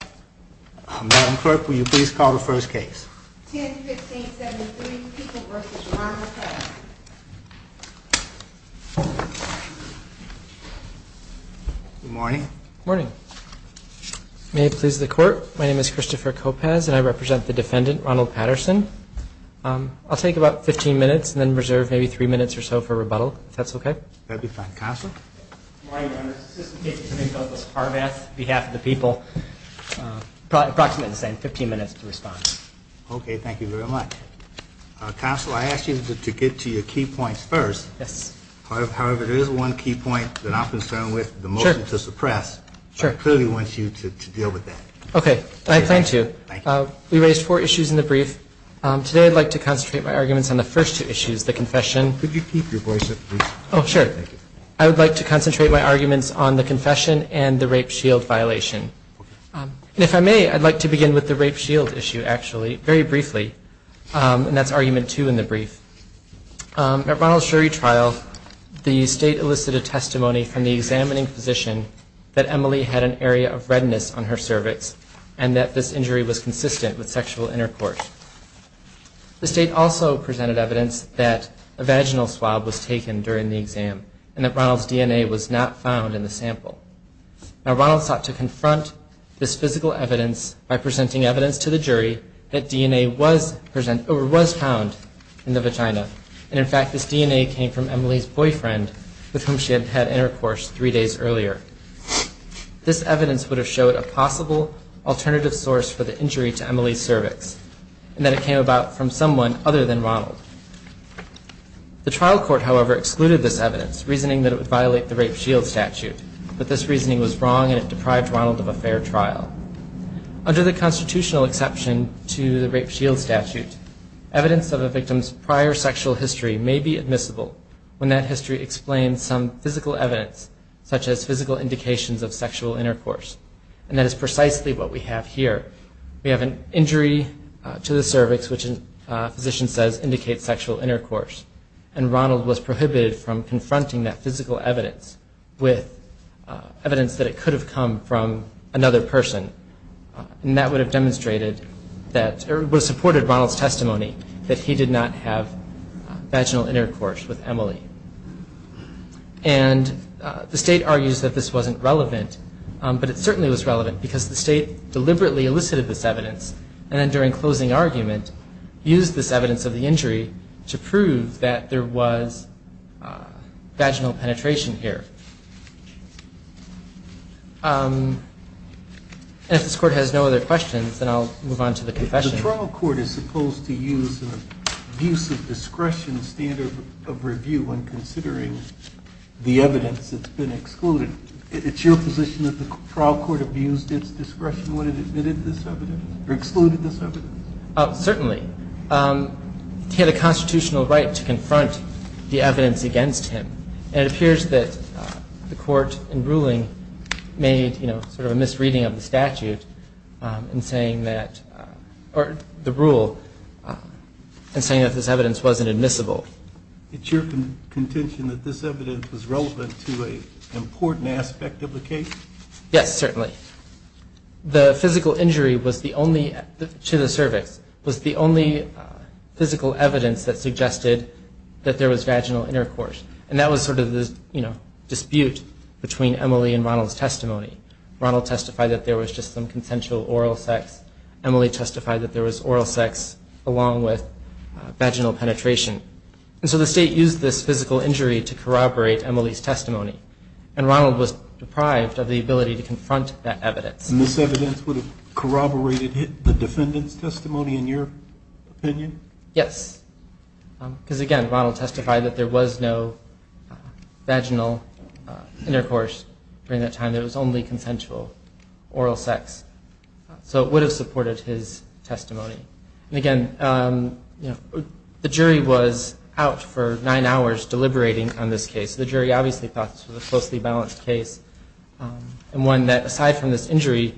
Good morning. May it please the court. My name is Christopher Copaz and I represent the defendant, Ronald Patterson. I'll take about 15 minutes and then reserve maybe three minutes or so for rebuttal, if that's okay. Counsel, I ask you to get to your key points first. However, there is one key point that I'm concerned with, the motion to suppress. I clearly want you to deal with that. Okay. I plan to. We raised four issues in the brief. Today I'd like to concentrate my arguments on the first two issues, the confession. Could you keep your voice up, please? Oh, sure. Thank you. I would like to concentrate my arguments on the confession and the rape shield violation. Okay. And if I may, I'd like to begin with the rape shield issue, actually, very briefly, and that's argument two in the brief. At Ronald's jury trial, the state elicited testimony from the examining physician that Emily had an area of redness on her cervix and that this injury was consistent with sexual intercourse. The state also presented evidence that a vaginal swab was taken during the exam and that Ronald's DNA was not found in the sample. Now, Ronald sought to confront this physical evidence by presenting evidence to the jury that DNA was present or was found in the vagina. And, in fact, this DNA came from Emily's boyfriend, with whom she had had intercourse three days earlier. This evidence would have showed a possible alternative source for the injury to Emily's cervix, and that it came about from someone other than Ronald. The trial court, however, excluded this evidence, reasoning that it would violate the rape shield statute, but this reasoning was wrong and it deprived Ronald of a fair trial. Under the constitutional exception to the rape shield statute, evidence of a victim's prior sexual history may be admissible when that history explains some physical evidence, such as physical indications of sexual intercourse, and that is precisely what we have here. We have an injury to the cervix, which a physician says indicates sexual intercourse, and Ronald was prohibited from confronting that physical evidence with evidence that it could have come from another person. And that would have demonstrated that, or would have supported Ronald's testimony that he did not have vaginal intercourse with Emily. And the state argues that this wasn't relevant, but it certainly was relevant because the state deliberately elicited this evidence, and then during closing argument used this evidence of the injury to prove that there was vaginal penetration here. And if this court has no other questions, then I'll move on to the confession. The trial court is supposed to use an abuse of discretion standard of review when considering the evidence that's been excluded. It's your position that the trial court abused its discretion when it admitted this evidence, or excluded this evidence? Certainly. It had a constitutional right to confront the evidence against him, and it appears that the court in ruling made sort of a misreading of the statute and saying that, or the rule, and saying that this evidence wasn't admissible. It's your contention that this evidence was relevant to an important aspect of the case? Yes, certainly. The physical injury was the only, to the cervix, was the only physical evidence that suggested that there was vaginal intercourse. And that was sort of the, you know, dispute between Emily and Ronald's testimony. Ronald testified that there was just some consensual oral sex. Emily testified that there was oral sex along with vaginal penetration. And so the state used this physical injury to corroborate Emily's testimony. And Ronald was deprived of the ability to confront that evidence. And this evidence would have corroborated the defendant's testimony, in your opinion? Yes. Because, again, Ronald testified that there was no vaginal intercourse during that time. There was only consensual oral sex. So it would have supported his testimony. And, again, you know, the jury was out for nine hours deliberating on this case. The jury obviously thought this was a closely balanced case and one that, aside from this injury,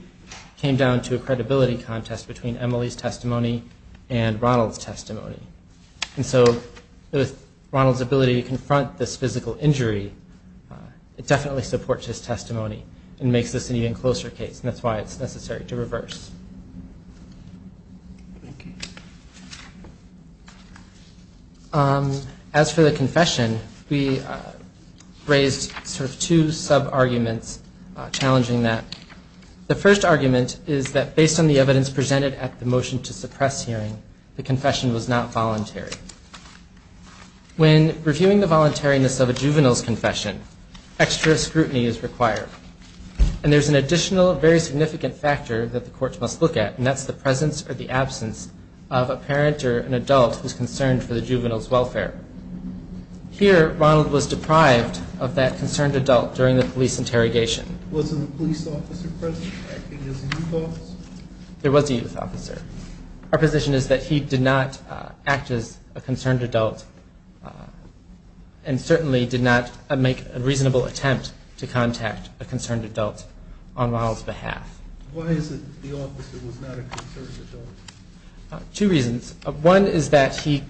came down to a credibility contest between Emily's testimony and Ronald's testimony. And so with Ronald's ability to confront this physical injury, it definitely supports his testimony and makes this an even closer case, and that's why it's necessary to reverse. Okay. As for the confession, we raised sort of two sub-arguments challenging that. The first argument is that, based on the evidence presented at the motion to suppress hearing, the confession was not voluntary. When reviewing the voluntariness of a juvenile's confession, extra scrutiny is required. And there's an additional, very significant factor that the courts must look at, and that's the presence or the absence of a parent or an adult who's concerned for the juvenile's welfare. Here, Ronald was deprived of that concerned adult during the police interrogation. Was there a police officer present acting as a youth officer? There was a youth officer. Our position is that he did not act as a concerned adult and certainly did not make a reasonable attempt to contact a concerned adult on Ronald's behalf. Why is it the officer was not a concerned adult? Two reasons. One is that he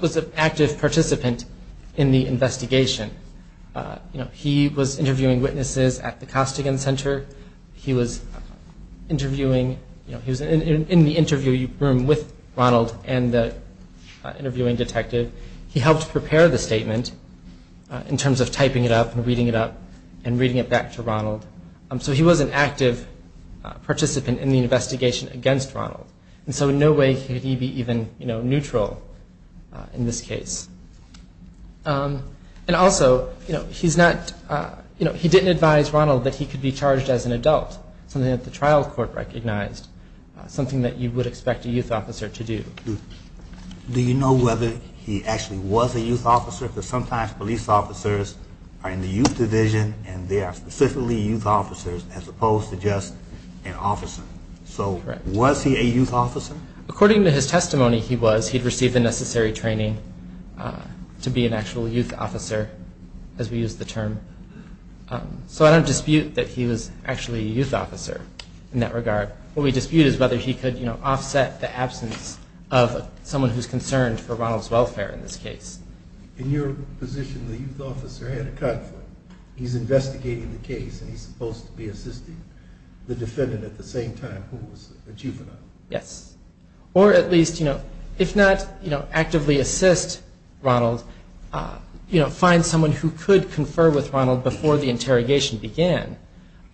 was an active participant in the investigation. You know, he was interviewing witnesses at the Costigan Center. He was interviewing, you know, he was in the interview room with Ronald and the interviewing detective. He helped prepare the statement in terms of typing it up and reading it up and reading it back to Ronald. So he was an active participant in the investigation against Ronald. And so in no way could he be even, you know, neutral in this case. And also, you know, he didn't advise Ronald that he could be charged as an adult, something that the trial court recognized, something that you would expect a youth officer to do. Do you know whether he actually was a youth officer? Because sometimes police officers are in the youth division and they are specifically youth officers as opposed to just an officer. So was he a youth officer? According to his testimony, he was. He had received the necessary training to be an actual youth officer, as we use the term. So I don't dispute that he was actually a youth officer in that regard. What we dispute is whether he could, you know, offset the absence of someone who is concerned for Ronald's welfare in this case. In your position, the youth officer had a conflict. He's investigating the case and he's supposed to be assisting the defendant at the same time who was a juvenile. Yes. Or at least, you know, if not, you know, actively assist Ronald, you know, find someone who could confer with Ronald before the interrogation began.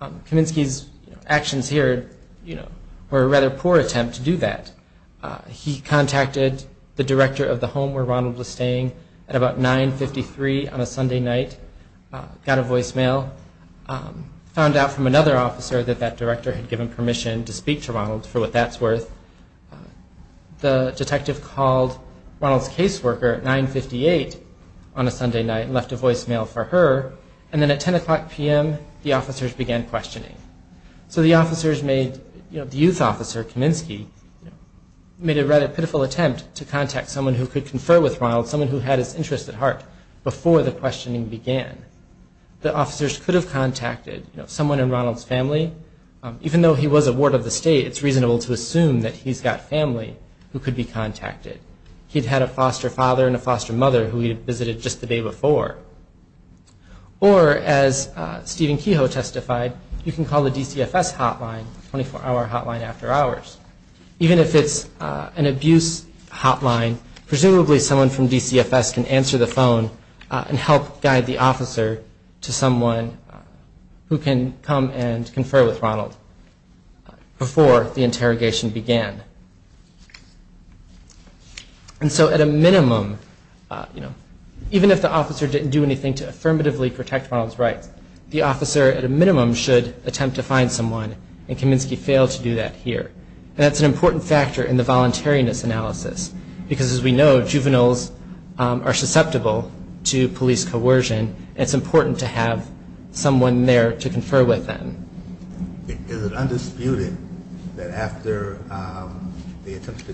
Kaminsky's actions here, you know, were a rather poor attempt to do that. He contacted the director of the home where Ronald was staying at about 9.53 on a Sunday night, got a voicemail, found out from another officer that that director had given permission to speak to Ronald for what that's worth. The detective called Ronald's caseworker at 9.58 on a Sunday night and left a voicemail for her. And then at 10 o'clock p.m., the officers began questioning. So the officers made, you know, the youth officer, Kaminsky, made a rather pitiful attempt to contact someone who could confer with Ronald, someone who had his interests at heart before the questioning began. The officers could have contacted, you know, someone in Ronald's family. Even though he was a ward of the state, it's reasonable to assume that he's got family who could be contacted. He'd had a foster father and a foster mother who he'd visited just the day before. Or, as Stephen Kehoe testified, you can call the DCFS hotline, 24-hour hotline after hours. Even if it's an abuse hotline, presumably someone from DCFS can answer the phone and help guide the officer to someone who can come and confer with Ronald before the interrogation began. And so at a minimum, you know, even if the officer didn't do anything to affirmatively protect Ronald's rights, the officer at a minimum should attempt to find someone, and Kaminsky failed to do that here. And that's an important factor in the voluntariness analysis. Because as we know, juveniles are susceptible to police coercion, and it's important to have someone there to confer with them. Is it undisputed that after the attempt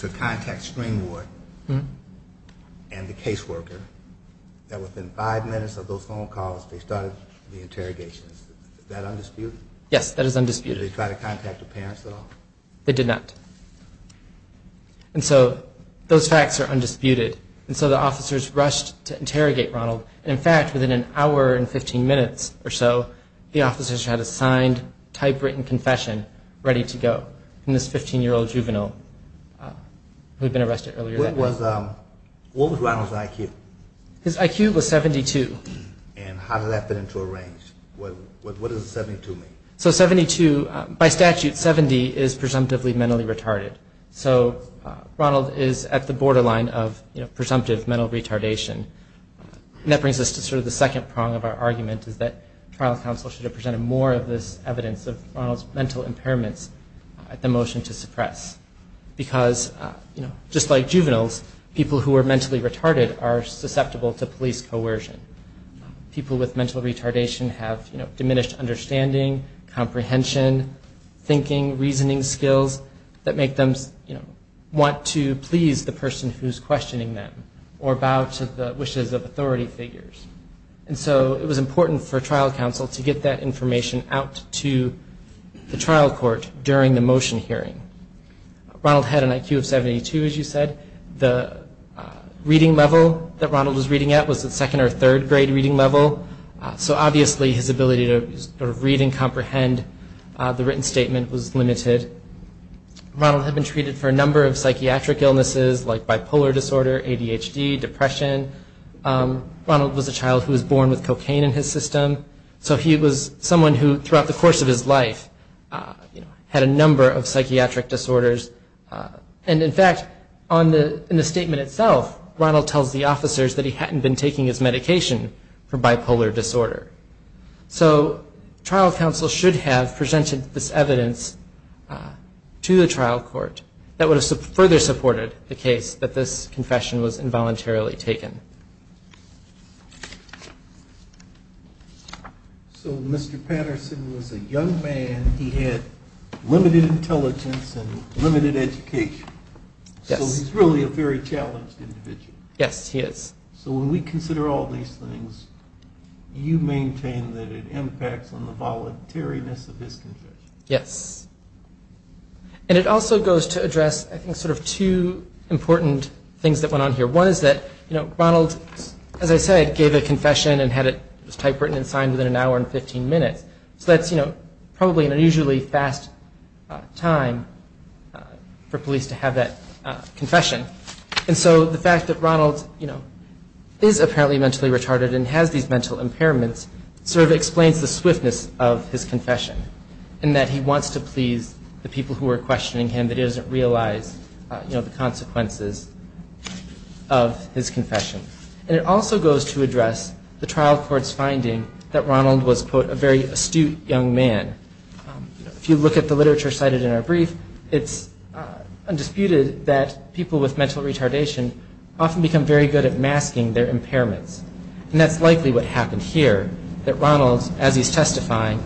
to contact String Ward and the caseworker, that within five minutes of those phone calls, they started the interrogations? Is that undisputed? Yes, that is undisputed. Did they try to contact the parents at all? They did not. And so those facts are undisputed. And so the officers rushed to interrogate Ronald. And in fact, within an hour and 15 minutes or so, the officers had a signed typewritten confession ready to go from this 15-year-old juvenile who had been arrested earlier that day. What was Ronald's IQ? His IQ was 72. And how did that fit into a range? What does 72 mean? So 72, by statute, 70 is presumptively mentally retarded. So Ronald is at the borderline of presumptive mental retardation. And that brings us to sort of the second prong of our argument, is that trial counsel should have presented more of this evidence of Ronald's mental impairments at the motion to suppress. Because just like juveniles, people who are mentally retarded are susceptible to police coercion. People with mental retardation have diminished understanding, comprehension, thinking, reasoning skills that make them want to please the person who is questioning them or bow to the wishes of authority figures. And so it was important for trial counsel to get that information out to the trial court during the motion hearing. Ronald had an IQ of 72, as you said. The reading level that Ronald was reading at was the second or third grade reading level. So obviously his ability to sort of read and comprehend the written statement was limited. Ronald had been treated for a number of psychiatric illnesses like bipolar disorder, ADHD, depression. Ronald was a child who was born with cocaine in his system. So he was someone who, throughout the course of his life, had a number of psychiatric disorders. And in fact, in the statement itself, Ronald tells the officers that he hadn't been taking his medication for bipolar disorder. So trial counsel should have presented this evidence to the trial court that would have further supported the case that this confession was involuntarily taken. So Mr. Patterson was a young man. He had limited intelligence and limited education. Yes. So he's really a very challenged individual. Yes, he is. So when we consider all these things, you maintain that it impacts on the voluntariness of this confession. Yes. And it also goes to address, I think, sort of two important things that went on here. One is that Ronald, as I said, gave a confession and had it typewritten and signed within an hour and 15 minutes. So that's probably an unusually fast time for police to have that confession. And so the fact that Ronald is apparently mentally retarded and has these mental impairments sort of explains the swiftness of his confession, in that he wants to please the people who are questioning him but he doesn't realize the consequences of his confession. And it also goes to address the trial court's finding that Ronald was, quote, a very astute young man. If you look at the literature cited in our brief, it's undisputed that people with mental retardation often become very good at masking their impairments. And that's likely what happened here, that Ronald, as he's testifying,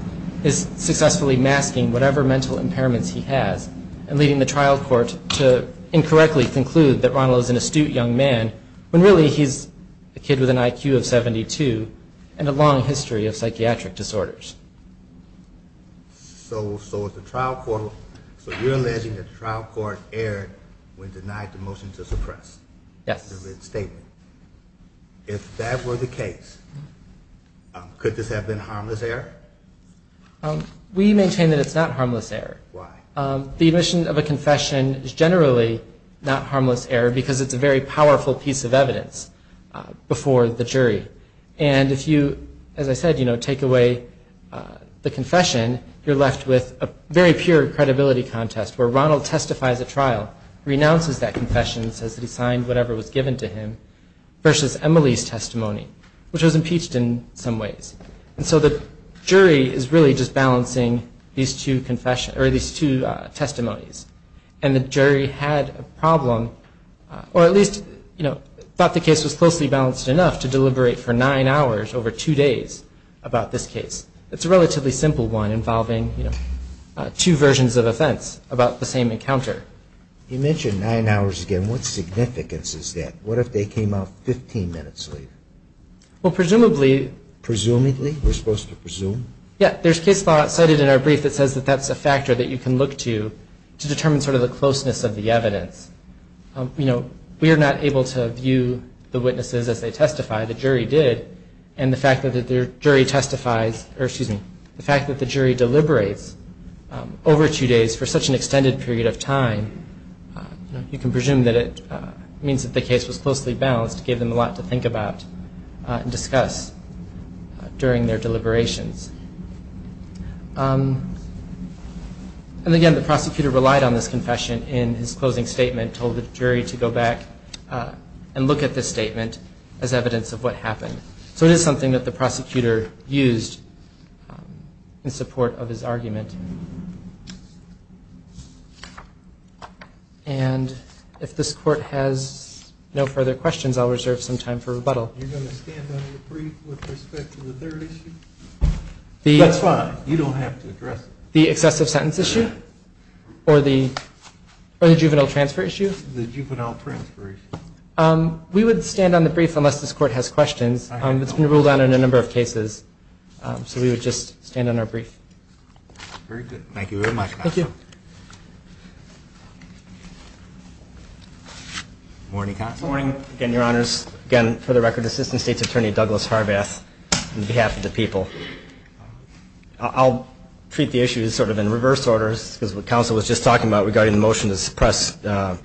is successfully masking whatever mental impairments he has and leading the trial court to incorrectly conclude that Ronald is an astute young man when really he's a kid with an IQ of 72 and a long history of psychiatric disorders. So you're alleging that the trial court erred when denied the motion to suppress the written statement. Yes. If that were the case, could this have been harmless error? We maintain that it's not harmless error. Why? The admission of a confession is generally not harmless error because it's a very powerful piece of evidence before the jury. And if you, as I said, take away the confession, you're left with a very pure credibility contest where Ronald testifies at trial, renounces that confession, says that he signed whatever was given to him, versus Emily's testimony, which was impeached in some ways. And so the jury is really just balancing these two testimonies. And the jury had a problem, or at least thought the case was closely balanced enough to deliberate for nine hours over two days about this case. It's a relatively simple one involving two versions of offense about the same encounter. You mentioned nine hours again. What significance is that? What if they came out 15 minutes later? Well, presumably. Presumably? We're supposed to presume? Yeah. There's case law cited in our brief that says that that's a factor that you can look to to determine sort of the closeness of the evidence. We are not able to view the witnesses as they testify. The jury did. And the fact that the jury deliberates over two days for such an extended period of time, you can presume that it means that the case was closely balanced, gave them a lot to think about and discuss during their deliberations. And again, the prosecutor relied on this confession in his closing statement, told the jury to go back and look at this statement as evidence of what happened. So it is something that the prosecutor used in support of his argument. And if this court has no further questions, I'll reserve some time for rebuttal. You're going to stand on the brief with respect to the third issue? That's fine. You don't have to address it. The excessive sentence issue? Or the juvenile transfer issue? The juvenile transfer issue. We would stand on the brief unless this court has questions. It's been ruled on in a number of cases. So we would just stand on our brief. Very good. Thank you very much, counsel. Thank you. Morning, counsel. Morning. Again, your honors. Again, for the record, Assistant State's Attorney Douglas Harbath on behalf of the people. I'll treat the issue sort of in reverse order because what counsel was just talking about regarding the motion to suppress the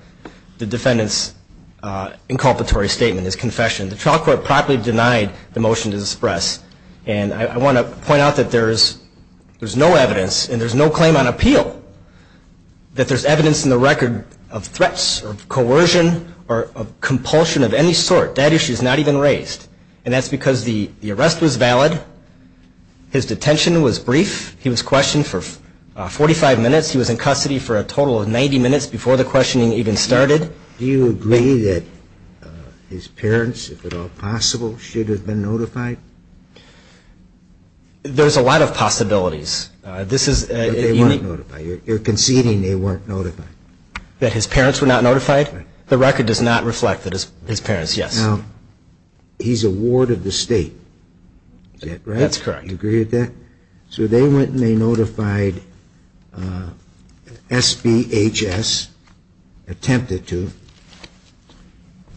defendant's inculpatory statement, his confession. The trial court properly denied the motion to suppress. And I want to point out that there's no evidence and there's no claim on appeal that there's evidence in the record of threats or coercion or compulsion of any sort. That issue is not even raised. And that's because the arrest was valid. His detention was brief. He was questioned for 45 minutes. He was in custody for a total of 90 minutes before the questioning even started. Do you agree that his parents, if at all possible, should have been notified? There's a lot of possibilities. They weren't notified. You're conceding they weren't notified. That his parents were not notified? The record does not reflect that his parents, yes. Now, he's a ward of the state, right? That's correct. You agree with that? So they went and they notified SBHS, attempted to,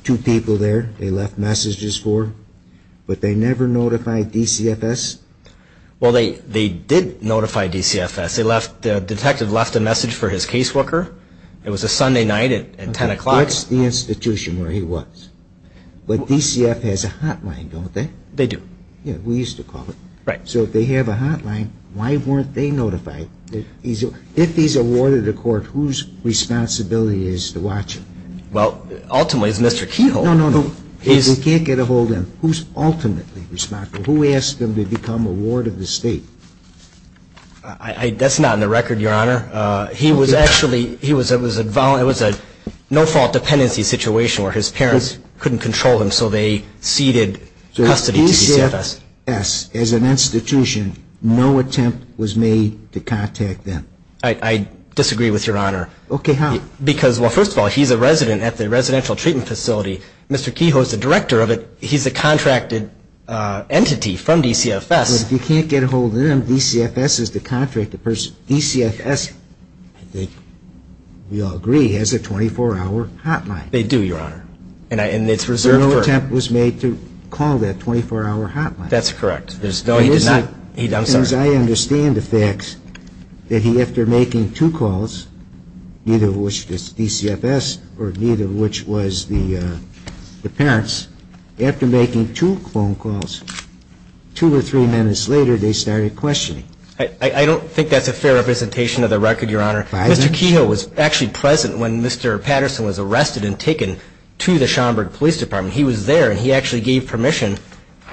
two people there they left messages for. But they never notified DCFS? Well, they did notify DCFS. The detective left a message for his caseworker. It was a Sunday night at 10 o'clock. That's the institution where he was. But DCFS has a hotline, don't they? They do. We used to call it. Right. So if they have a hotline, why weren't they notified? If he's a ward of the court, whose responsibility is to watch him? Well, ultimately it's Mr. Kehoe. No, no, no. We can't get a hold of him. Who's ultimately responsible? Who asked him to become a ward of the state? That's not in the record, Your Honor. He was actually, it was a no-fault dependency situation where his parents couldn't control him, so they ceded custody to DCFS. So DCFS, as an institution, no attempt was made to contact them? I disagree with Your Honor. Okay, how? Because, well, first of all, he's a resident at the residential treatment facility. Mr. Kehoe is the director of it. He's a contracted entity from DCFS. But if you can't get a hold of them, DCFS is the contracted person. DCFS, we all agree, has a 24-hour hotline. They do, Your Honor. And it's reserved for them. No attempt was made to call that 24-hour hotline. No, he did not. I'm sorry. I'm just trying to understand the fact that he, after making two calls, neither of which was DCFS, nor neither of which was the parents, after making two phone calls, two or three minutes later, they started questioning. I don't think that's a fair representation of the record, Your Honor. Mr. Kehoe was actually present when Mr. Patterson was arrested and taken to the Schomburg Police Department. He was there. And he actually gave permission.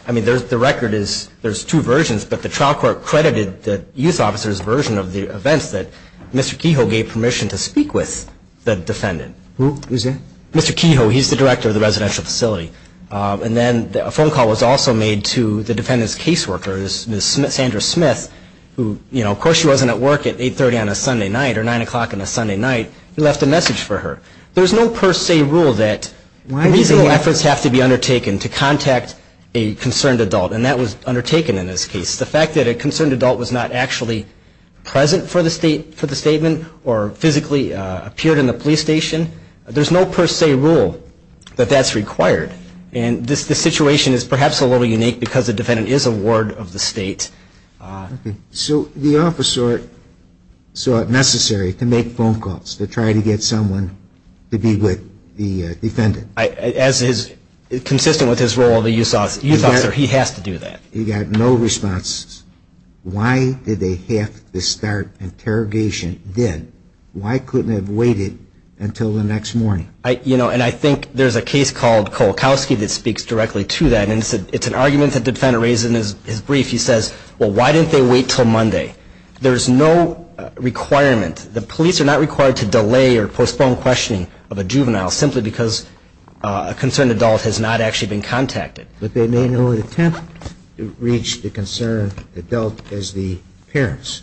I mean, the record is there's two versions, but the trial court credited the youth officer's version of the events that Mr. Kehoe gave permission to speak with the defendant. Who is that? Mr. Kehoe. He's the director of the residential facility. And then a phone call was also made to the defendant's caseworker, Ms. Sandra Smith, who, you know, of course she wasn't at work at 830 on a Sunday night or 9 o'clock on a Sunday night. He left a message for her. There's no per se rule that these efforts have to be undertaken to contact a concerned adult, and that was undertaken in this case. The fact that a concerned adult was not actually present for the statement or physically appeared in the police station, there's no per se rule that that's required. And this situation is perhaps a little unique because the defendant is a ward of the state. So the officer saw it necessary to make phone calls to try to get someone to be with the defendant. As is consistent with his role, the youth officer, he has to do that. He got no response. Why did they have to start interrogation then? Why couldn't it have waited until the next morning? You know, and I think there's a case called Kolakowski that speaks directly to that, and it's an argument that the defendant raises in his brief. He says, well, why didn't they wait until Monday? There's no requirement. The police are not required to delay or postpone questioning of a juvenile simply because a concerned adult has not actually been contacted. But they made no attempt to reach the concerned adult as the parents.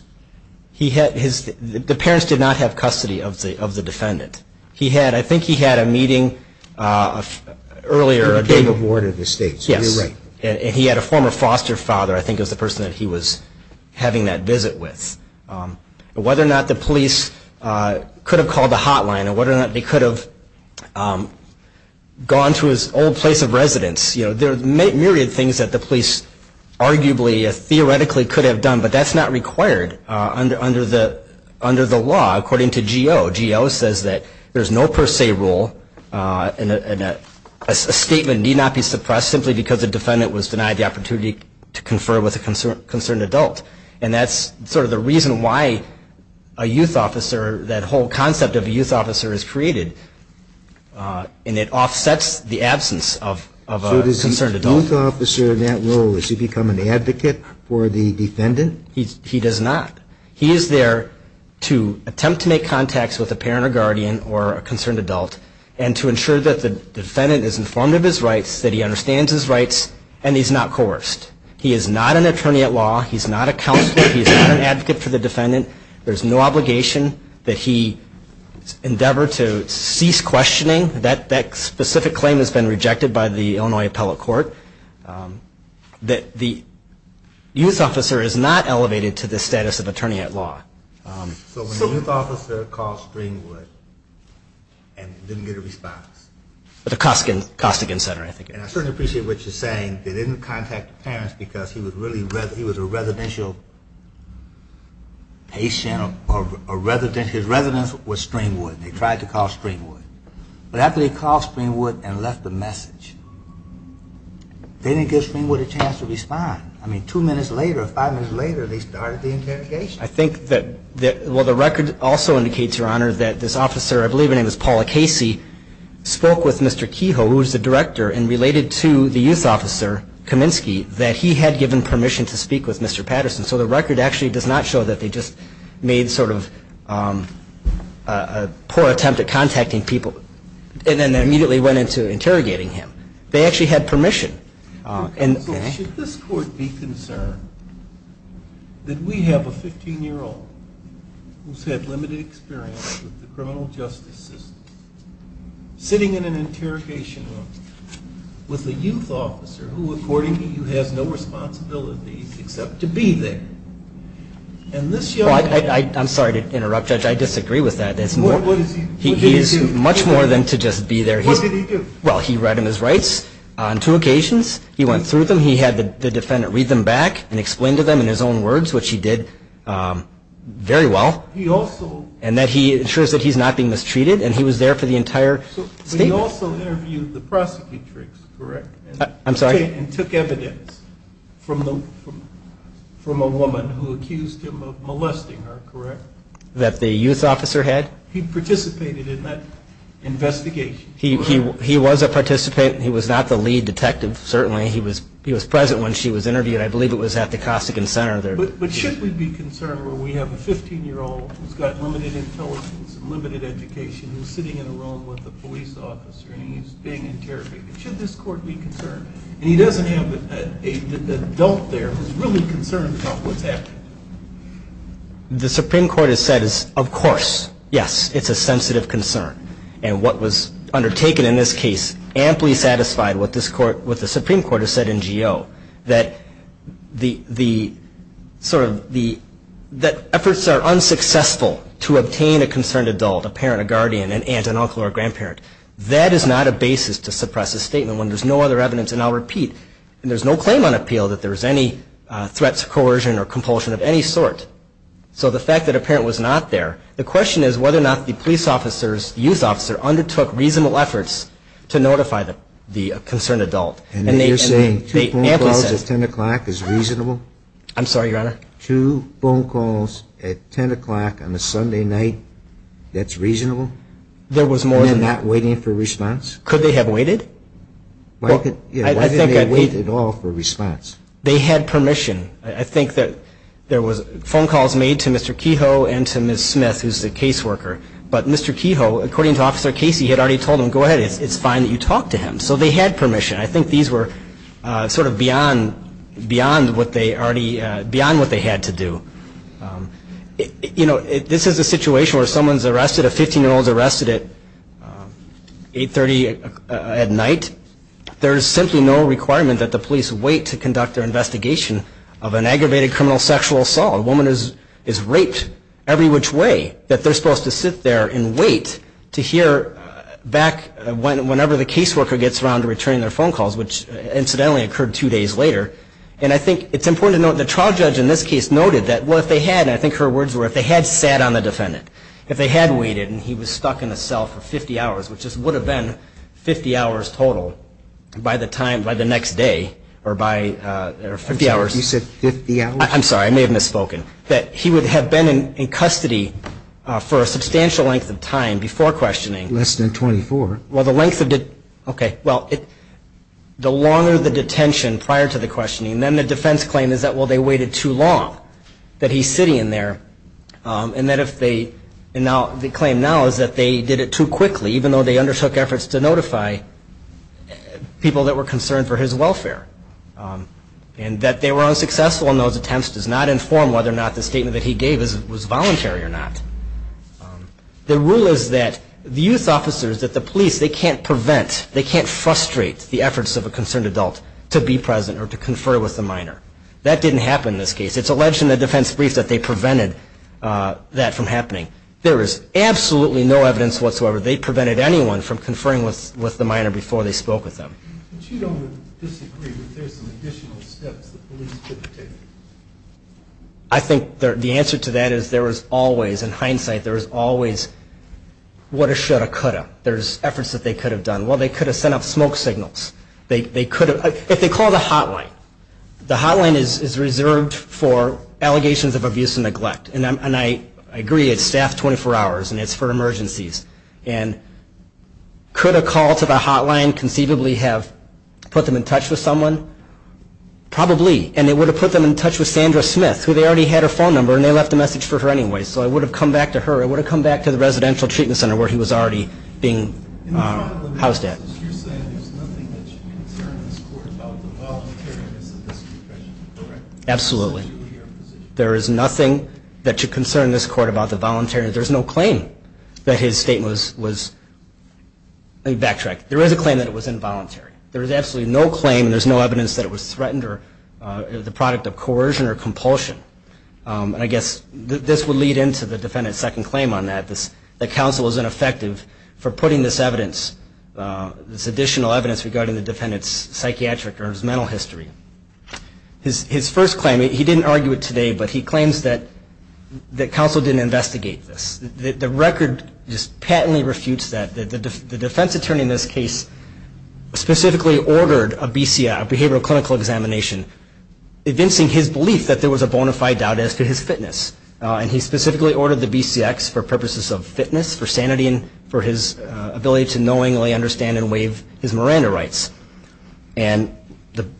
The parents did not have custody of the defendant. I think he had a meeting earlier. He became a ward of the state, so you're right. Yes, and he had a former foster father I think was the person that he was having that visit with. Whether or not the police could have called the hotline or whether or not they could have gone to his old place of residence, there are a myriad of things that the police arguably theoretically could have done, but that's not required under the law according to GO. GO says that there's no per se rule and a statement need not be suppressed simply because the defendant was denied the opportunity to confer with a concerned adult. And that's sort of the reason why a youth officer, that whole concept of a youth officer is created, and it offsets the absence of a concerned adult. So does the youth officer in that role, does he become an advocate for the defendant? He does not. He is there to attempt to make contacts with a parent or guardian or a concerned adult and to ensure that the defendant is informed of his rights, that he understands his rights, and he's not coerced. He is not an attorney at law. He's not a counselor. He's not an advocate for the defendant. There's no obligation that he endeavor to cease questioning. That specific claim has been rejected by the Illinois Appellate Court. The youth officer is not elevated to the status of attorney at law. So when the youth officer called Stringwood and didn't get a response? At the Costigan Center, I think. And I certainly appreciate what you're saying. They didn't contact the parents because he was a residential patient. His residence was Stringwood. They tried to call Stringwood. But after they called Stringwood and left a message, they didn't give Stringwood a chance to respond. I mean, two minutes later or five minutes later, they started the interrogation. I think that the record also indicates, Your Honor, that this officer, I believe her name was Paula Casey, spoke with Mr. Kehoe, who was the director, and related to the youth officer, Kaminsky, that he had given permission to speak with Mr. Patterson. So the record actually does not show that they just made sort of a poor attempt at contacting people, and then immediately went into interrogating him. They actually had permission. Should this court be concerned that we have a 15-year-old who's had limited experience with the criminal justice system, sitting in an interrogation room with a youth officer who, according to you, has no responsibilities except to be there? I'm sorry to interrupt, Judge. I disagree with that. What did he do? Much more than to just be there. What did he do? Well, he read him his rights on two occasions. He went through them. He had the defendant read them back and explain to them in his own words, which he did very well, and that he ensures that he's not being mistreated, and he was there for the entire statement. So he also interviewed the prosecutor, correct? I'm sorry? And took evidence from a woman who accused him of molesting her, correct? That the youth officer had? He participated in that investigation. He was a participant. He was not the lead detective, certainly. He was present when she was interviewed. I believe it was at the Costigan Center there. But should we be concerned where we have a 15-year-old who's got limited intelligence and limited education who's sitting in a room with a police officer and he's being interrogated? Should this court be concerned? And he doesn't have an adult there who's really concerned about what's happening. The Supreme Court has said, of course, yes, it's a sensitive concern. And what was undertaken in this case amply satisfied what the Supreme Court has said in Geo, that efforts are unsuccessful to obtain a concerned adult, a parent, a guardian, an aunt, an uncle, or a grandparent. That is not a basis to suppress a statement when there's no other evidence. And I'll repeat, there's no claim on appeal that there's any threats of coercion or compulsion of any sort. So the fact that a parent was not there, the question is whether or not the police officer, the youth officer, undertook reasonable efforts to notify the concerned adult. And you're saying two phone calls at 10 o'clock is reasonable? I'm sorry, Your Honor. Two phone calls at 10 o'clock on a Sunday night, that's reasonable? There was more than that. And they're not waiting for a response? Could they have waited? Why didn't they wait at all for a response? They had permission. I think that there was phone calls made to Mr. Kehoe and to Ms. Smith, who's the caseworker. But Mr. Kehoe, according to Officer Casey, had already told him, go ahead, it's fine that you talk to him. So they had permission. I think these were sort of beyond what they had to do. This is a situation where someone's arrested, a 15-year-old's arrested at 8.30 at night. There's simply no requirement that the police wait to conduct their investigation of an aggravated criminal sexual assault. A woman is raped every which way that they're supposed to sit there and wait to hear back whenever the caseworker gets around to returning their phone calls, which incidentally occurred two days later. And I think it's important to note the trial judge in this case noted that, well, if they had, and I think her words were, if they had sat on the defendant, if they had waited and he was stuck in the cell for 50 hours, which would have been 50 hours total by the time, by the next day, or by 50 hours. You said 50 hours? I'm sorry, I may have misspoken, that he would have been in custody for a substantial length of time before questioning. Less than 24. Well, the length of, okay, well, the longer the detention prior to the questioning, then the defense claim is that, well, they waited too long, that he's sitting in there, and that if they, and now the claim now is that they did it too quickly, even though they undertook efforts to notify people that were concerned for his welfare, and that they were unsuccessful in those attempts does not inform whether or not the statement that he gave was voluntary or not. The rule is that the youth officers, that the police, they can't prevent, they can't frustrate the efforts of a concerned adult to be present or to confer with the minor. That didn't happen in this case. It's alleged in the defense brief that they prevented that from happening. There is absolutely no evidence whatsoever they prevented anyone from conferring with the minor before they spoke with them. But you don't disagree that there's some additional steps that police could have taken? I think the answer to that is there was always, in hindsight, there was always what a shoulda coulda. There's efforts that they could have done. Well, they could have sent up smoke signals. They could have, if they called a hotline, the hotline is reserved for allegations of abuse and neglect, and I agree it's staffed 24 hours and it's for emergencies, and could a call to the hotline conceivably have put them in touch with someone? Probably. And it would have put them in touch with Sandra Smith, who they already had her phone number and they left a message for her anyway. So it would have come back to her. It would have come back to the residential treatment center where he was already being housed at. In front of the message, you're saying there's nothing that should concern this court about the voluntaryness of this profession, correct? Absolutely. There is nothing that should concern this court about the voluntary. There's no claim that his statement was, let me backtrack, there is a claim that it was involuntary. There is absolutely no claim and there's no evidence that it was threatened or the product of coercion or compulsion. And I guess this would lead into the defendant's second claim on that, that counsel was ineffective for putting this evidence, this additional evidence regarding the defendant's psychiatric or his mental history. His first claim, he didn't argue it today, but he claims that counsel didn't investigate this. The record just patently refutes that. The defense attorney in this case specifically ordered a BCI, a behavioral clinical examination, evincing his belief that there was a bona fide doubt as to his fitness. And he specifically ordered the BCX for purposes of fitness, for sanity, and for his ability to knowingly understand and waive his Miranda rights. And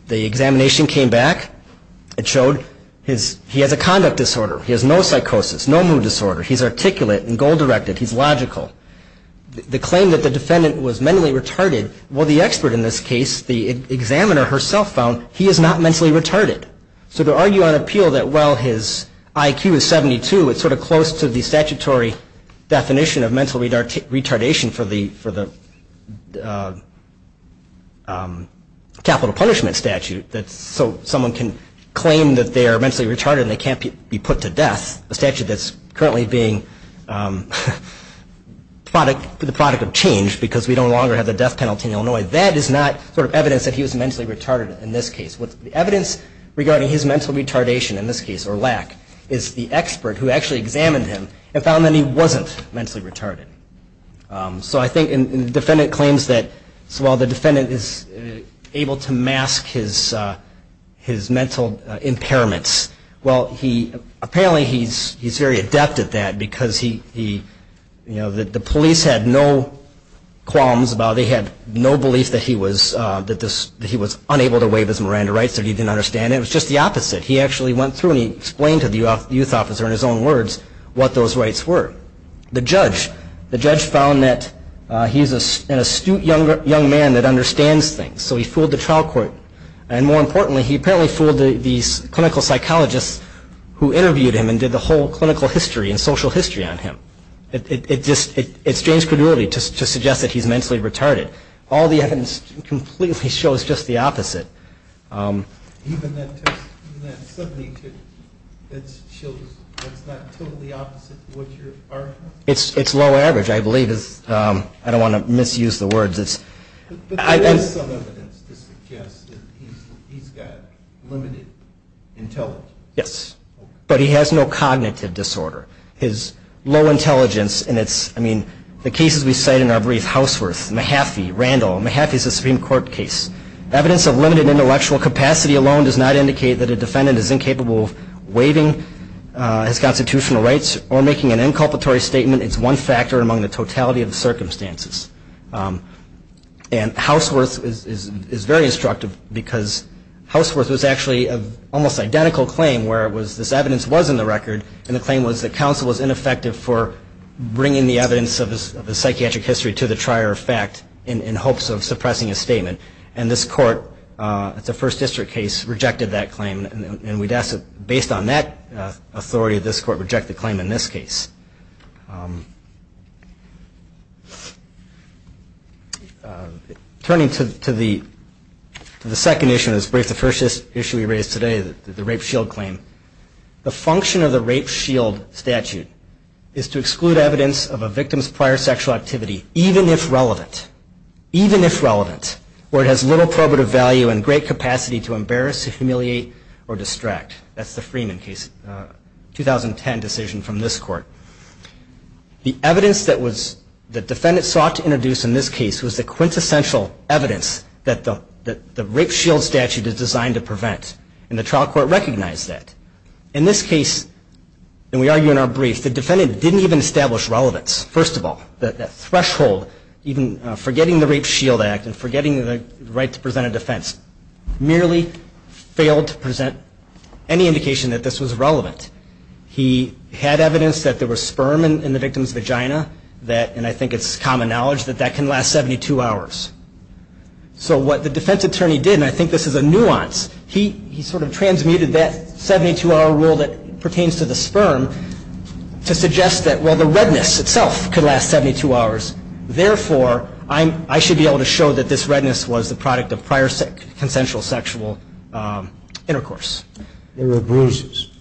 the examination came back. It showed he has a conduct disorder. He has no psychosis, no mood disorder. He's articulate and goal-directed. He's logical. The claim that the defendant was mentally retarded, well, the expert in this case, the examiner herself found he is not mentally retarded. So to argue on appeal that while his IQ is 72, it's sort of close to the statutory definition of mental retardation for the capital punishment statute. So someone can claim that they are mentally retarded and they can't be put to death, a statute that's currently being the product of change because we no longer have the death penalty in Illinois. That is not sort of evidence that he was mentally retarded in this case. The evidence regarding his mental retardation in this case, or lack, is the expert who actually examined him and found that he wasn't mentally retarded. So I think the defendant claims that while the defendant is able to mask his mental impairments, well, apparently he's very adept at that because the police had no qualms about it. They had no belief that he was unable to waive his Miranda rights or he didn't understand it. It was just the opposite. He actually went through and he explained to the youth officer in his own words what those rights were. The judge found that he's an astute young man that understands things, so he fooled the trial court. And more importantly, he apparently fooled these clinical psychologists who interviewed him and did the whole clinical history and social history on him. It's James Crudulity to suggest that he's mentally retarded. All the evidence completely shows just the opposite. Suddenly, that's not totally opposite to what you're arguing? It's low average, I believe. I don't want to misuse the words. But there is some evidence to suggest that he's got limited intelligence. Yes, but he has no cognitive disorder. His low intelligence in the cases we cite in our brief, Houseworth, Mahaffey, Randall. Mahaffey is a Supreme Court case. Evidence of limited intellectual capacity alone does not indicate that a defendant is incapable of waiving his constitutional rights or making an inculpatory statement. It's one factor among the totality of the circumstances. And Houseworth is very instructive because Houseworth was actually an almost identical claim where this evidence was in the record and the claim was that counsel was ineffective for bringing the evidence of his psychiatric history to the trier of fact in hopes of suppressing his statement. And this court, it's a first district case, rejected that claim. And we'd ask that based on that authority, this court reject the claim in this case. Turning to the second issue in this brief, the first issue we raised today, the rape shield claim. The function of the rape shield statute is to exclude evidence of a victim's prior sexual activity, even if relevant, even if relevant, where it has little probative value and great capacity to embarrass, humiliate, or distract. That's the Freeman case, 2010 decision from this court. The evidence that the defendant sought to introduce in this case was the quintessential evidence that the rape shield statute is designed to prevent. And the trial court recognized that. In this case, and we argue in our brief, the defendant didn't even establish relevance, first of all. That threshold, even forgetting the rape shield act and forgetting the right to present a defense, merely failed to present any indication that this was relevant. He had evidence that there was sperm in the victim's vagina, and I think it's common knowledge that that can last 72 hours. So what the defense attorney did, and I think this is a nuance, he sort of transmuted that 72-hour rule that pertains to the sperm to suggest that, well, the redness itself could last 72 hours. Therefore, I should be able to show that this redness was the product of prior consensual sexual intercourse. There were bruises.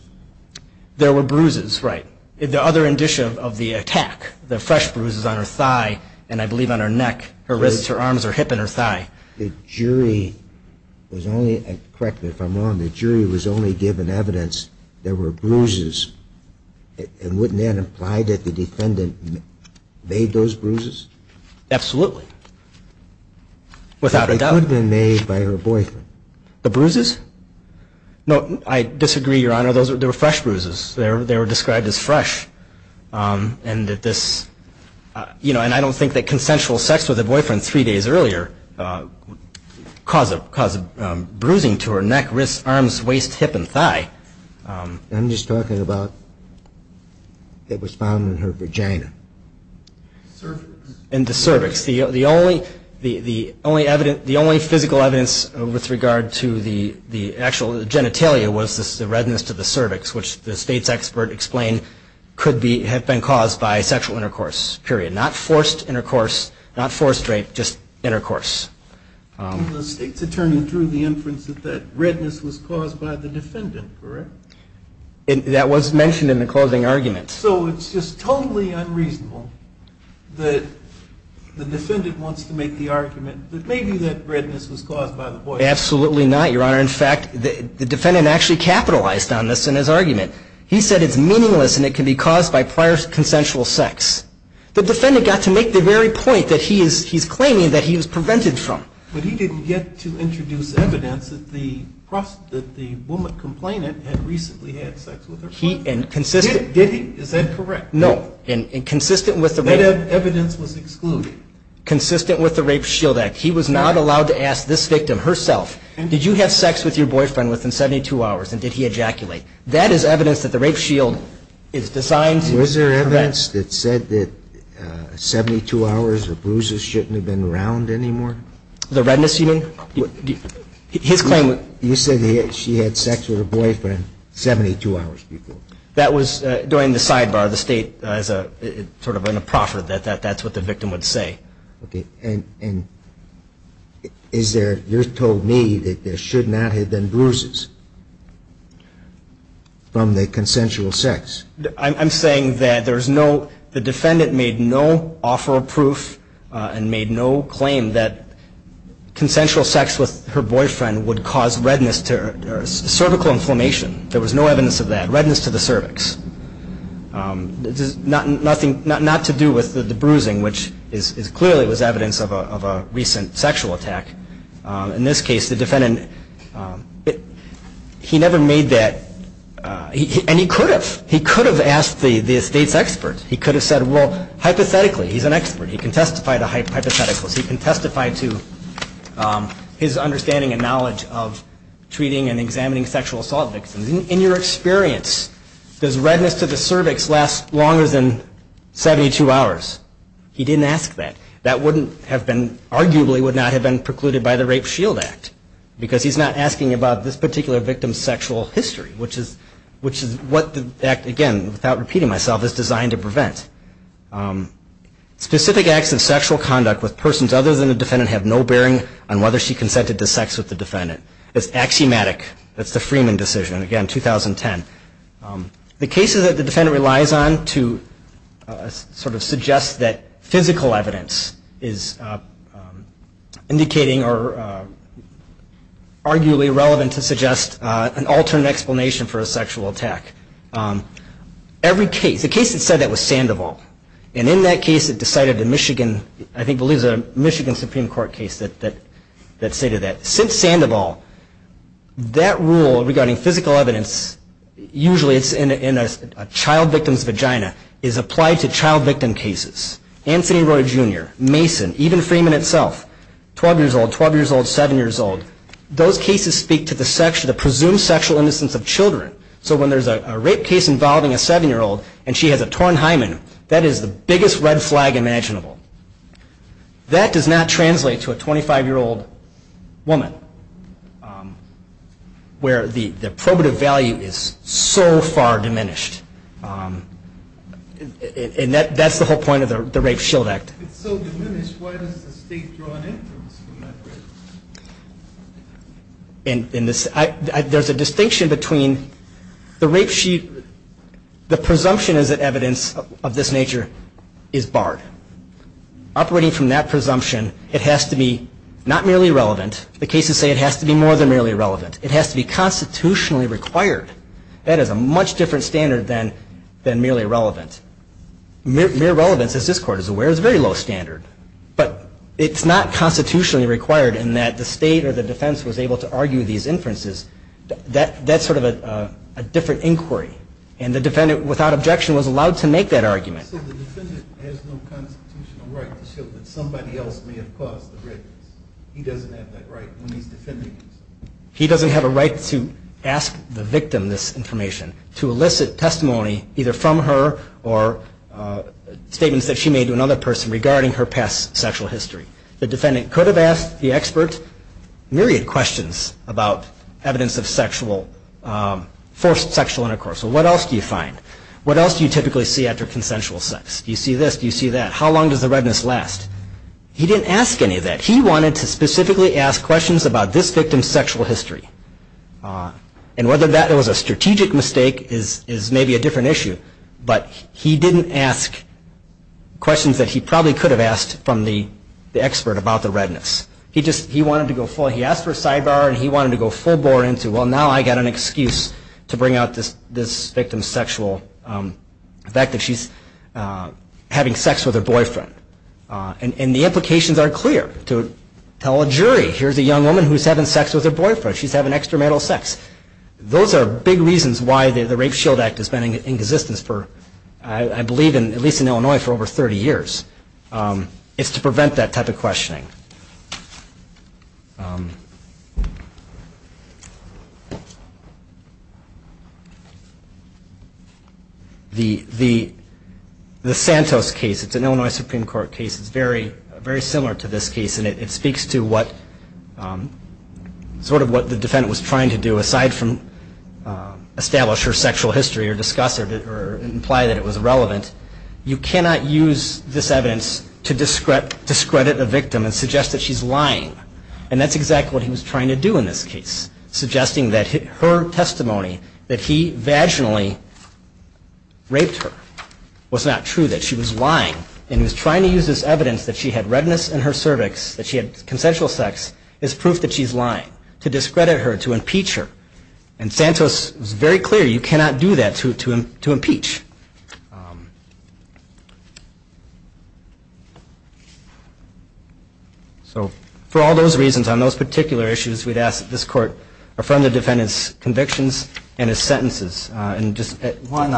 There were bruises, right. The other indicia of the attack, the fresh bruises on her thigh, and I believe on her neck, her wrists, her arms, her hip, and her thigh. The jury was only, correct me if I'm wrong, the jury was only given evidence there were bruises. And wouldn't that imply that the defendant made those bruises? Absolutely. Without a doubt. But they could have been made by her boyfriend. The bruises? No, I disagree, Your Honor. Those were fresh bruises. They were described as fresh, and that this, you know, and I don't think that consensual sex with her boyfriend three days earlier caused bruising to her neck, wrists, arms, waist, hip, and thigh. I'm just talking about it was found in her vagina. And the cervix. The only physical evidence with regard to the actual genitalia was the redness to the cervix, which the state's expert explained could have been caused by sexual intercourse, period. Not forced intercourse, not forced rape, just intercourse. The state's attorney drew the inference that that redness was caused by the defendant, correct? That was mentioned in the closing argument. So it's just totally unreasonable that the defendant wants to make the argument that maybe that redness was caused by the boyfriend. Absolutely not, Your Honor. In fact, the defendant actually capitalized on this in his argument. He said it's meaningless and it can be caused by prior consensual sex. The defendant got to make the very point that he's claiming that he was prevented from. But he didn't get to introduce evidence that the woman complainant had recently had sex with her boyfriend. And consistent. Did he? Is that correct? No. And consistent with the rape shield act. That evidence was excluded. Consistent with the rape shield act. He was not allowed to ask this victim herself, did you have sex with your boyfriend within 72 hours and did he ejaculate? That is evidence that the rape shield is designed to prevent. Was there evidence that said that 72 hours of bruises shouldn't have been around anymore? The redness you mean? His claim. You said she had sex with her boyfriend 72 hours before. That was during the sidebar. The State sort of in a proffer that that's what the victim would say. Okay. And is there, you told me that there should not have been bruises from the consensual sex. I'm saying that there's no, the defendant made no offer of proof and made no claim that consensual sex with her boyfriend would cause redness or cervical inflammation. There was no evidence of that. Redness to the cervix. Not to do with the bruising, which clearly was evidence of a recent sexual attack. In this case, the defendant, he never made that, and he could have. He could have asked the State's expert. He could have said, well, hypothetically, he's an expert. He can testify to hypotheticals. He can testify to his understanding and knowledge of treating and examining sexual assault victims. In your experience, does redness to the cervix last longer than 72 hours? He didn't ask that. That wouldn't have been, arguably, would not have been precluded by the Rape Shield Act, because he's not asking about this particular victim's sexual history, which is what the act, again, without repeating myself, is designed to prevent. Specific acts of sexual conduct with persons other than the defendant have no bearing on whether she consented to sex with the defendant. It's axiomatic. That's the Freeman decision, again, 2010. The cases that the defendant relies on to sort of suggest that physical evidence is indicating or arguably relevant to suggest an alternate explanation for a sexual attack, every case, the case that said that was Sandoval, and in that case, it decided the Michigan, I think it was a Michigan Supreme Court case that stated that. Since Sandoval, that rule regarding physical evidence, usually it's in a child victim's vagina, is applied to child victim cases. Anthony Roy, Jr., Mason, even Freeman itself, 12 years old, 12 years old, 7 years old, those cases speak to the presumed sexual innocence of children. So when there's a rape case involving a 7-year-old and she has a torn hymen, that is the biggest red flag imaginable. That does not translate to a 25-year-old woman where the probative value is so far diminished. And that's the whole point of the Rape Shield Act. If it's so diminished, why does the state draw an interest in that rape? There's a distinction between the rape shield, the presumption is that evidence of this nature is barred. Operating from that presumption, it has to be not merely relevant. The cases say it has to be more than merely relevant. It has to be constitutionally required. That is a much different standard than merely relevant. Mere relevance, as this Court is aware, is a very low standard, but it's not constitutionally required in that the state or the defense was able to argue these inferences. That's sort of a different inquiry. And the defendant, without objection, was allowed to make that argument. He doesn't have a right to ask the victim this information, to elicit testimony either from her or statements that she made to another person regarding her past sexual history. The defendant could have asked the expert myriad questions about evidence of sexual, forced sexual intercourse. What else do you find? What else do you typically see after consensual sex? Do you see this? Do you see that? How long does the redness last? He didn't ask any of that. He wanted to specifically ask questions about this victim's sexual history. And whether that was a strategic mistake is maybe a different issue. But he didn't ask questions that he probably could have asked from the expert about the redness. He asked for a sidebar, and he wanted to go full bore into, well, now I've got an excuse to bring out this victim's sexual, the fact that she's having sex with her boyfriend. And the implications are clear. To tell a jury, here's a young woman who's having sex with her boyfriend. She's having extramarital sex. Those are big reasons why the Rape Shield Act has been in existence for, I believe at least in Illinois, for over 30 years. It's to prevent that type of questioning. The Santos case, it's an Illinois Supreme Court case. It's very similar to this case, and it speaks to sort of what the defendant was trying to do, aside from establish her sexual history or discuss it or imply that it was relevant. You cannot use this evidence to discredit a victim and suggest that she's lying. And that's exactly what he was trying to do in this case, suggesting that her testimony that he vaginally raped her was not true, that she was lying. And he was trying to use this evidence that she had redness in her cervix, that she had consensual sex, as proof that she's lying, to discredit her, to impeach her. And Santos was very clear, you cannot do that to impeach. So for all those reasons, on those particular issues, we'd ask that this court affirm the defendant's convictions and his sentences. And just one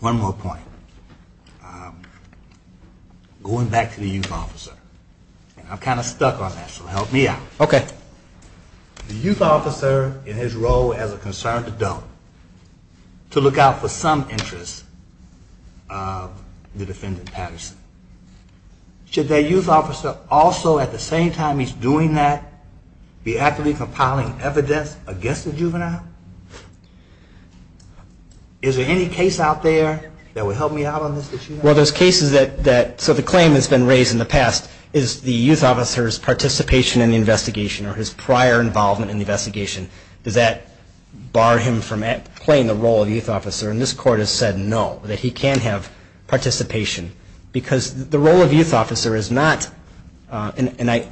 more point. Going back to the youth officer. I'm kind of stuck on that, so help me out. Okay. The youth officer, in his role as a concerned adult, to look out for some interests of the defendant Patterson. Should that youth officer also, at the same time he's doing that, be actively compiling evidence against the juvenile? Is there any case out there that would help me out on this? Well, there's cases that, so the claim has been raised in the past, is the youth officer's participation in the investigation or his prior involvement in the investigation, does that bar him from playing the role of youth officer? And this court has said no, that he can have participation. Because the role of youth officer is not, and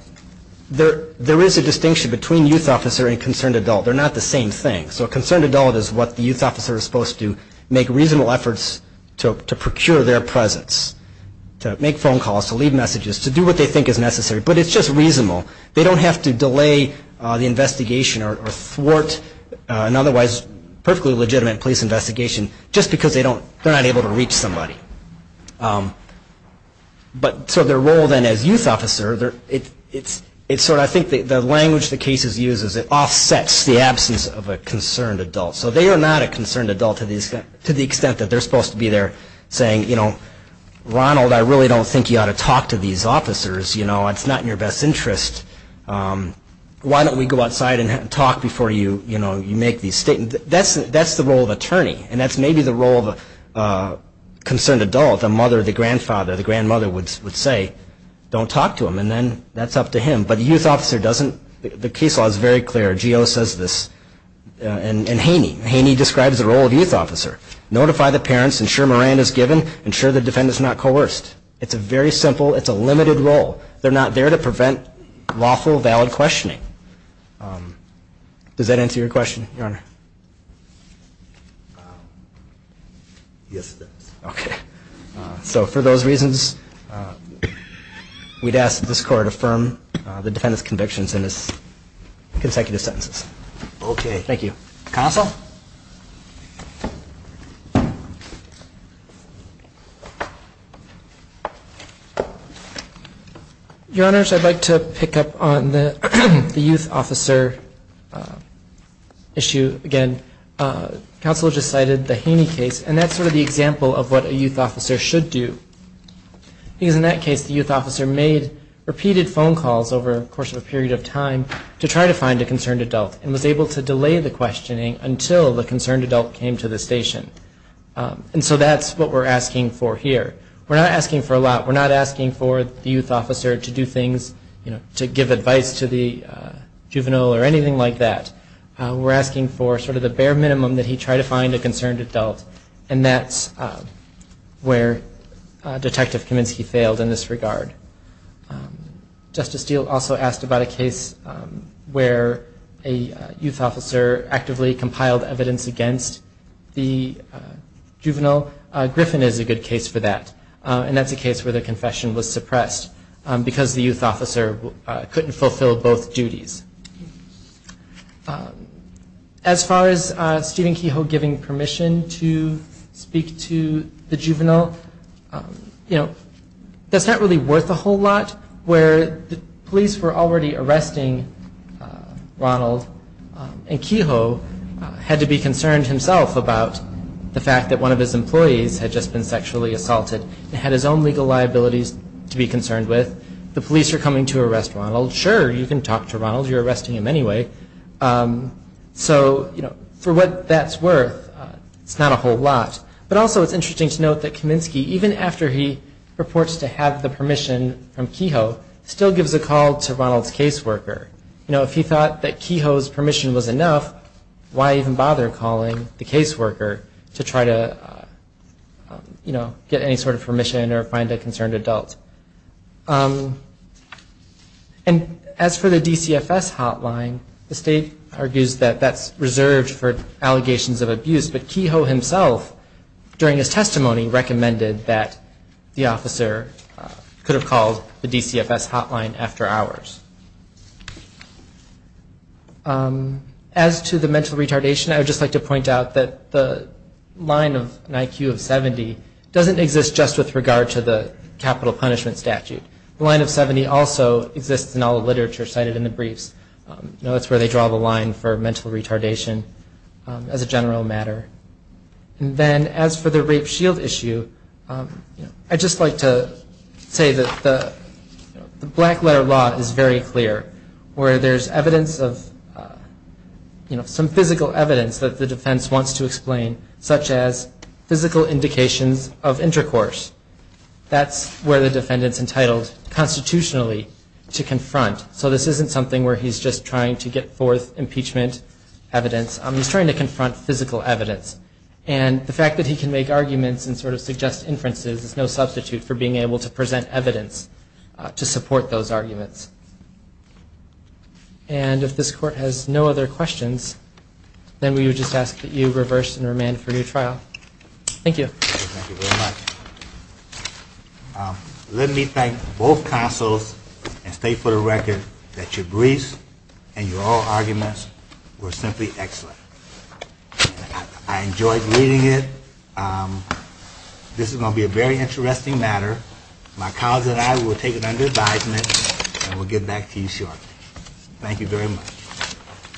there is a distinction between youth officer and concerned adult. They're not the same thing. So a concerned adult is what the youth officer is supposed to do, make reasonable efforts to procure their presence, to make phone calls, to leave messages, to do what they think is necessary. But it's just reasonable. They don't have to delay the investigation or thwart an otherwise perfectly legitimate police investigation just because they're not able to reach somebody. But so their role then as youth officer, it's sort of, I think the language the cases use is it offsets the absence of a concerned adult. So they are not a concerned adult to the extent that they're supposed to be there saying, you know, Ronald, I really don't think you ought to talk to these officers. You know, it's not in your best interest. Why don't we go outside and talk before you, you know, you make these statements. That's the role of attorney. And that's maybe the role of a concerned adult, the mother, the grandfather, the grandmother would say, don't talk to them, and then that's up to him. But the youth officer doesn't, the case law is very clear, GEO says this, and Haney. Haney describes the role of youth officer. Notify the parents, ensure Moran is given, ensure the defendant is not coerced. It's a very simple, it's a limited role. They're not there to prevent lawful, valid questioning. Does that answer your question, Your Honor? Yes, it does. Okay. So for those reasons, we'd ask that this court affirm the defendant's convictions in his consecutive sentences. Okay. Thank you. Counsel? Your Honors, I'd like to pick up on the youth officer issue. Again, counsel just cited the Haney case, and that's sort of the example of what a youth officer should do. Because in that case, the youth officer made repeated phone calls over the course of a period of time to try to find a concerned adult and was able to delay the questioning until the concerned adult came to the station. And so that's what we're asking for here. We're not asking for a lot. We're not asking for the youth officer to do things, you know, to give advice to the juvenile or anything like that. We're asking for sort of the bare minimum that he try to find a concerned adult. And that's where Detective Kaminsky failed in this regard. Justice Steele also asked about a case where a youth officer actively compiled evidence against the juvenile. Griffin is a good case for that. And that's a case where the confession was suppressed because the youth officer couldn't fulfill both duties. As far as Stephen Kehoe giving permission to speak to the juvenile, you know, that's not really worth a whole lot where the police were already arresting Ronald, and Kehoe had to be concerned himself about the fact that one of his employees had just been sexually assaulted and had his own legal liabilities to be concerned with. The police are coming to arrest Ronald. Sure, you can talk to Ronald. You're arresting him anyway. So, you know, for what that's worth, it's not a whole lot. But also it's interesting to note that Kaminsky, even after he purports to have the permission from Kehoe, still gives a call to Ronald's caseworker. You know, if he thought that Kehoe's permission was enough, why even bother calling the caseworker to try to, you know, get any sort of permission or find a concerned adult? And as for the DCFS hotline, the state argues that that's reserved for allegations of abuse. But Kehoe himself, during his testimony, recommended that the officer could have called the DCFS hotline after hours. As to the mental retardation, I would just like to point out that the line of an IQ of 70 doesn't exist just with regard to the capital punishment statute. The line of 70 also exists in all the literature cited in the briefs. You know, that's where they draw the line for mental retardation as a general matter. And then as for the rape shield issue, I'd just like to say that the black letter law is very clear, where there's evidence of, you know, some physical evidence that the defense wants to explain, such as physical indications of intercourse. That's where the defendant's entitled constitutionally to confront. So this isn't something where he's just trying to get forth impeachment evidence. He's trying to confront physical evidence. And the fact that he can make arguments and sort of suggest inferences is no substitute for being able to present evidence to support those arguments. And if this Court has no other questions, then we would just ask that you reverse and remand for your trial. Thank you. Thank you very much. Let me thank both counsels and state for the record that your briefs and your all arguments were simply excellent. I enjoyed reading it. This is going to be a very interesting matter. My colleagues and I will take it under advisement, and we'll get back to you shortly. Thank you very much.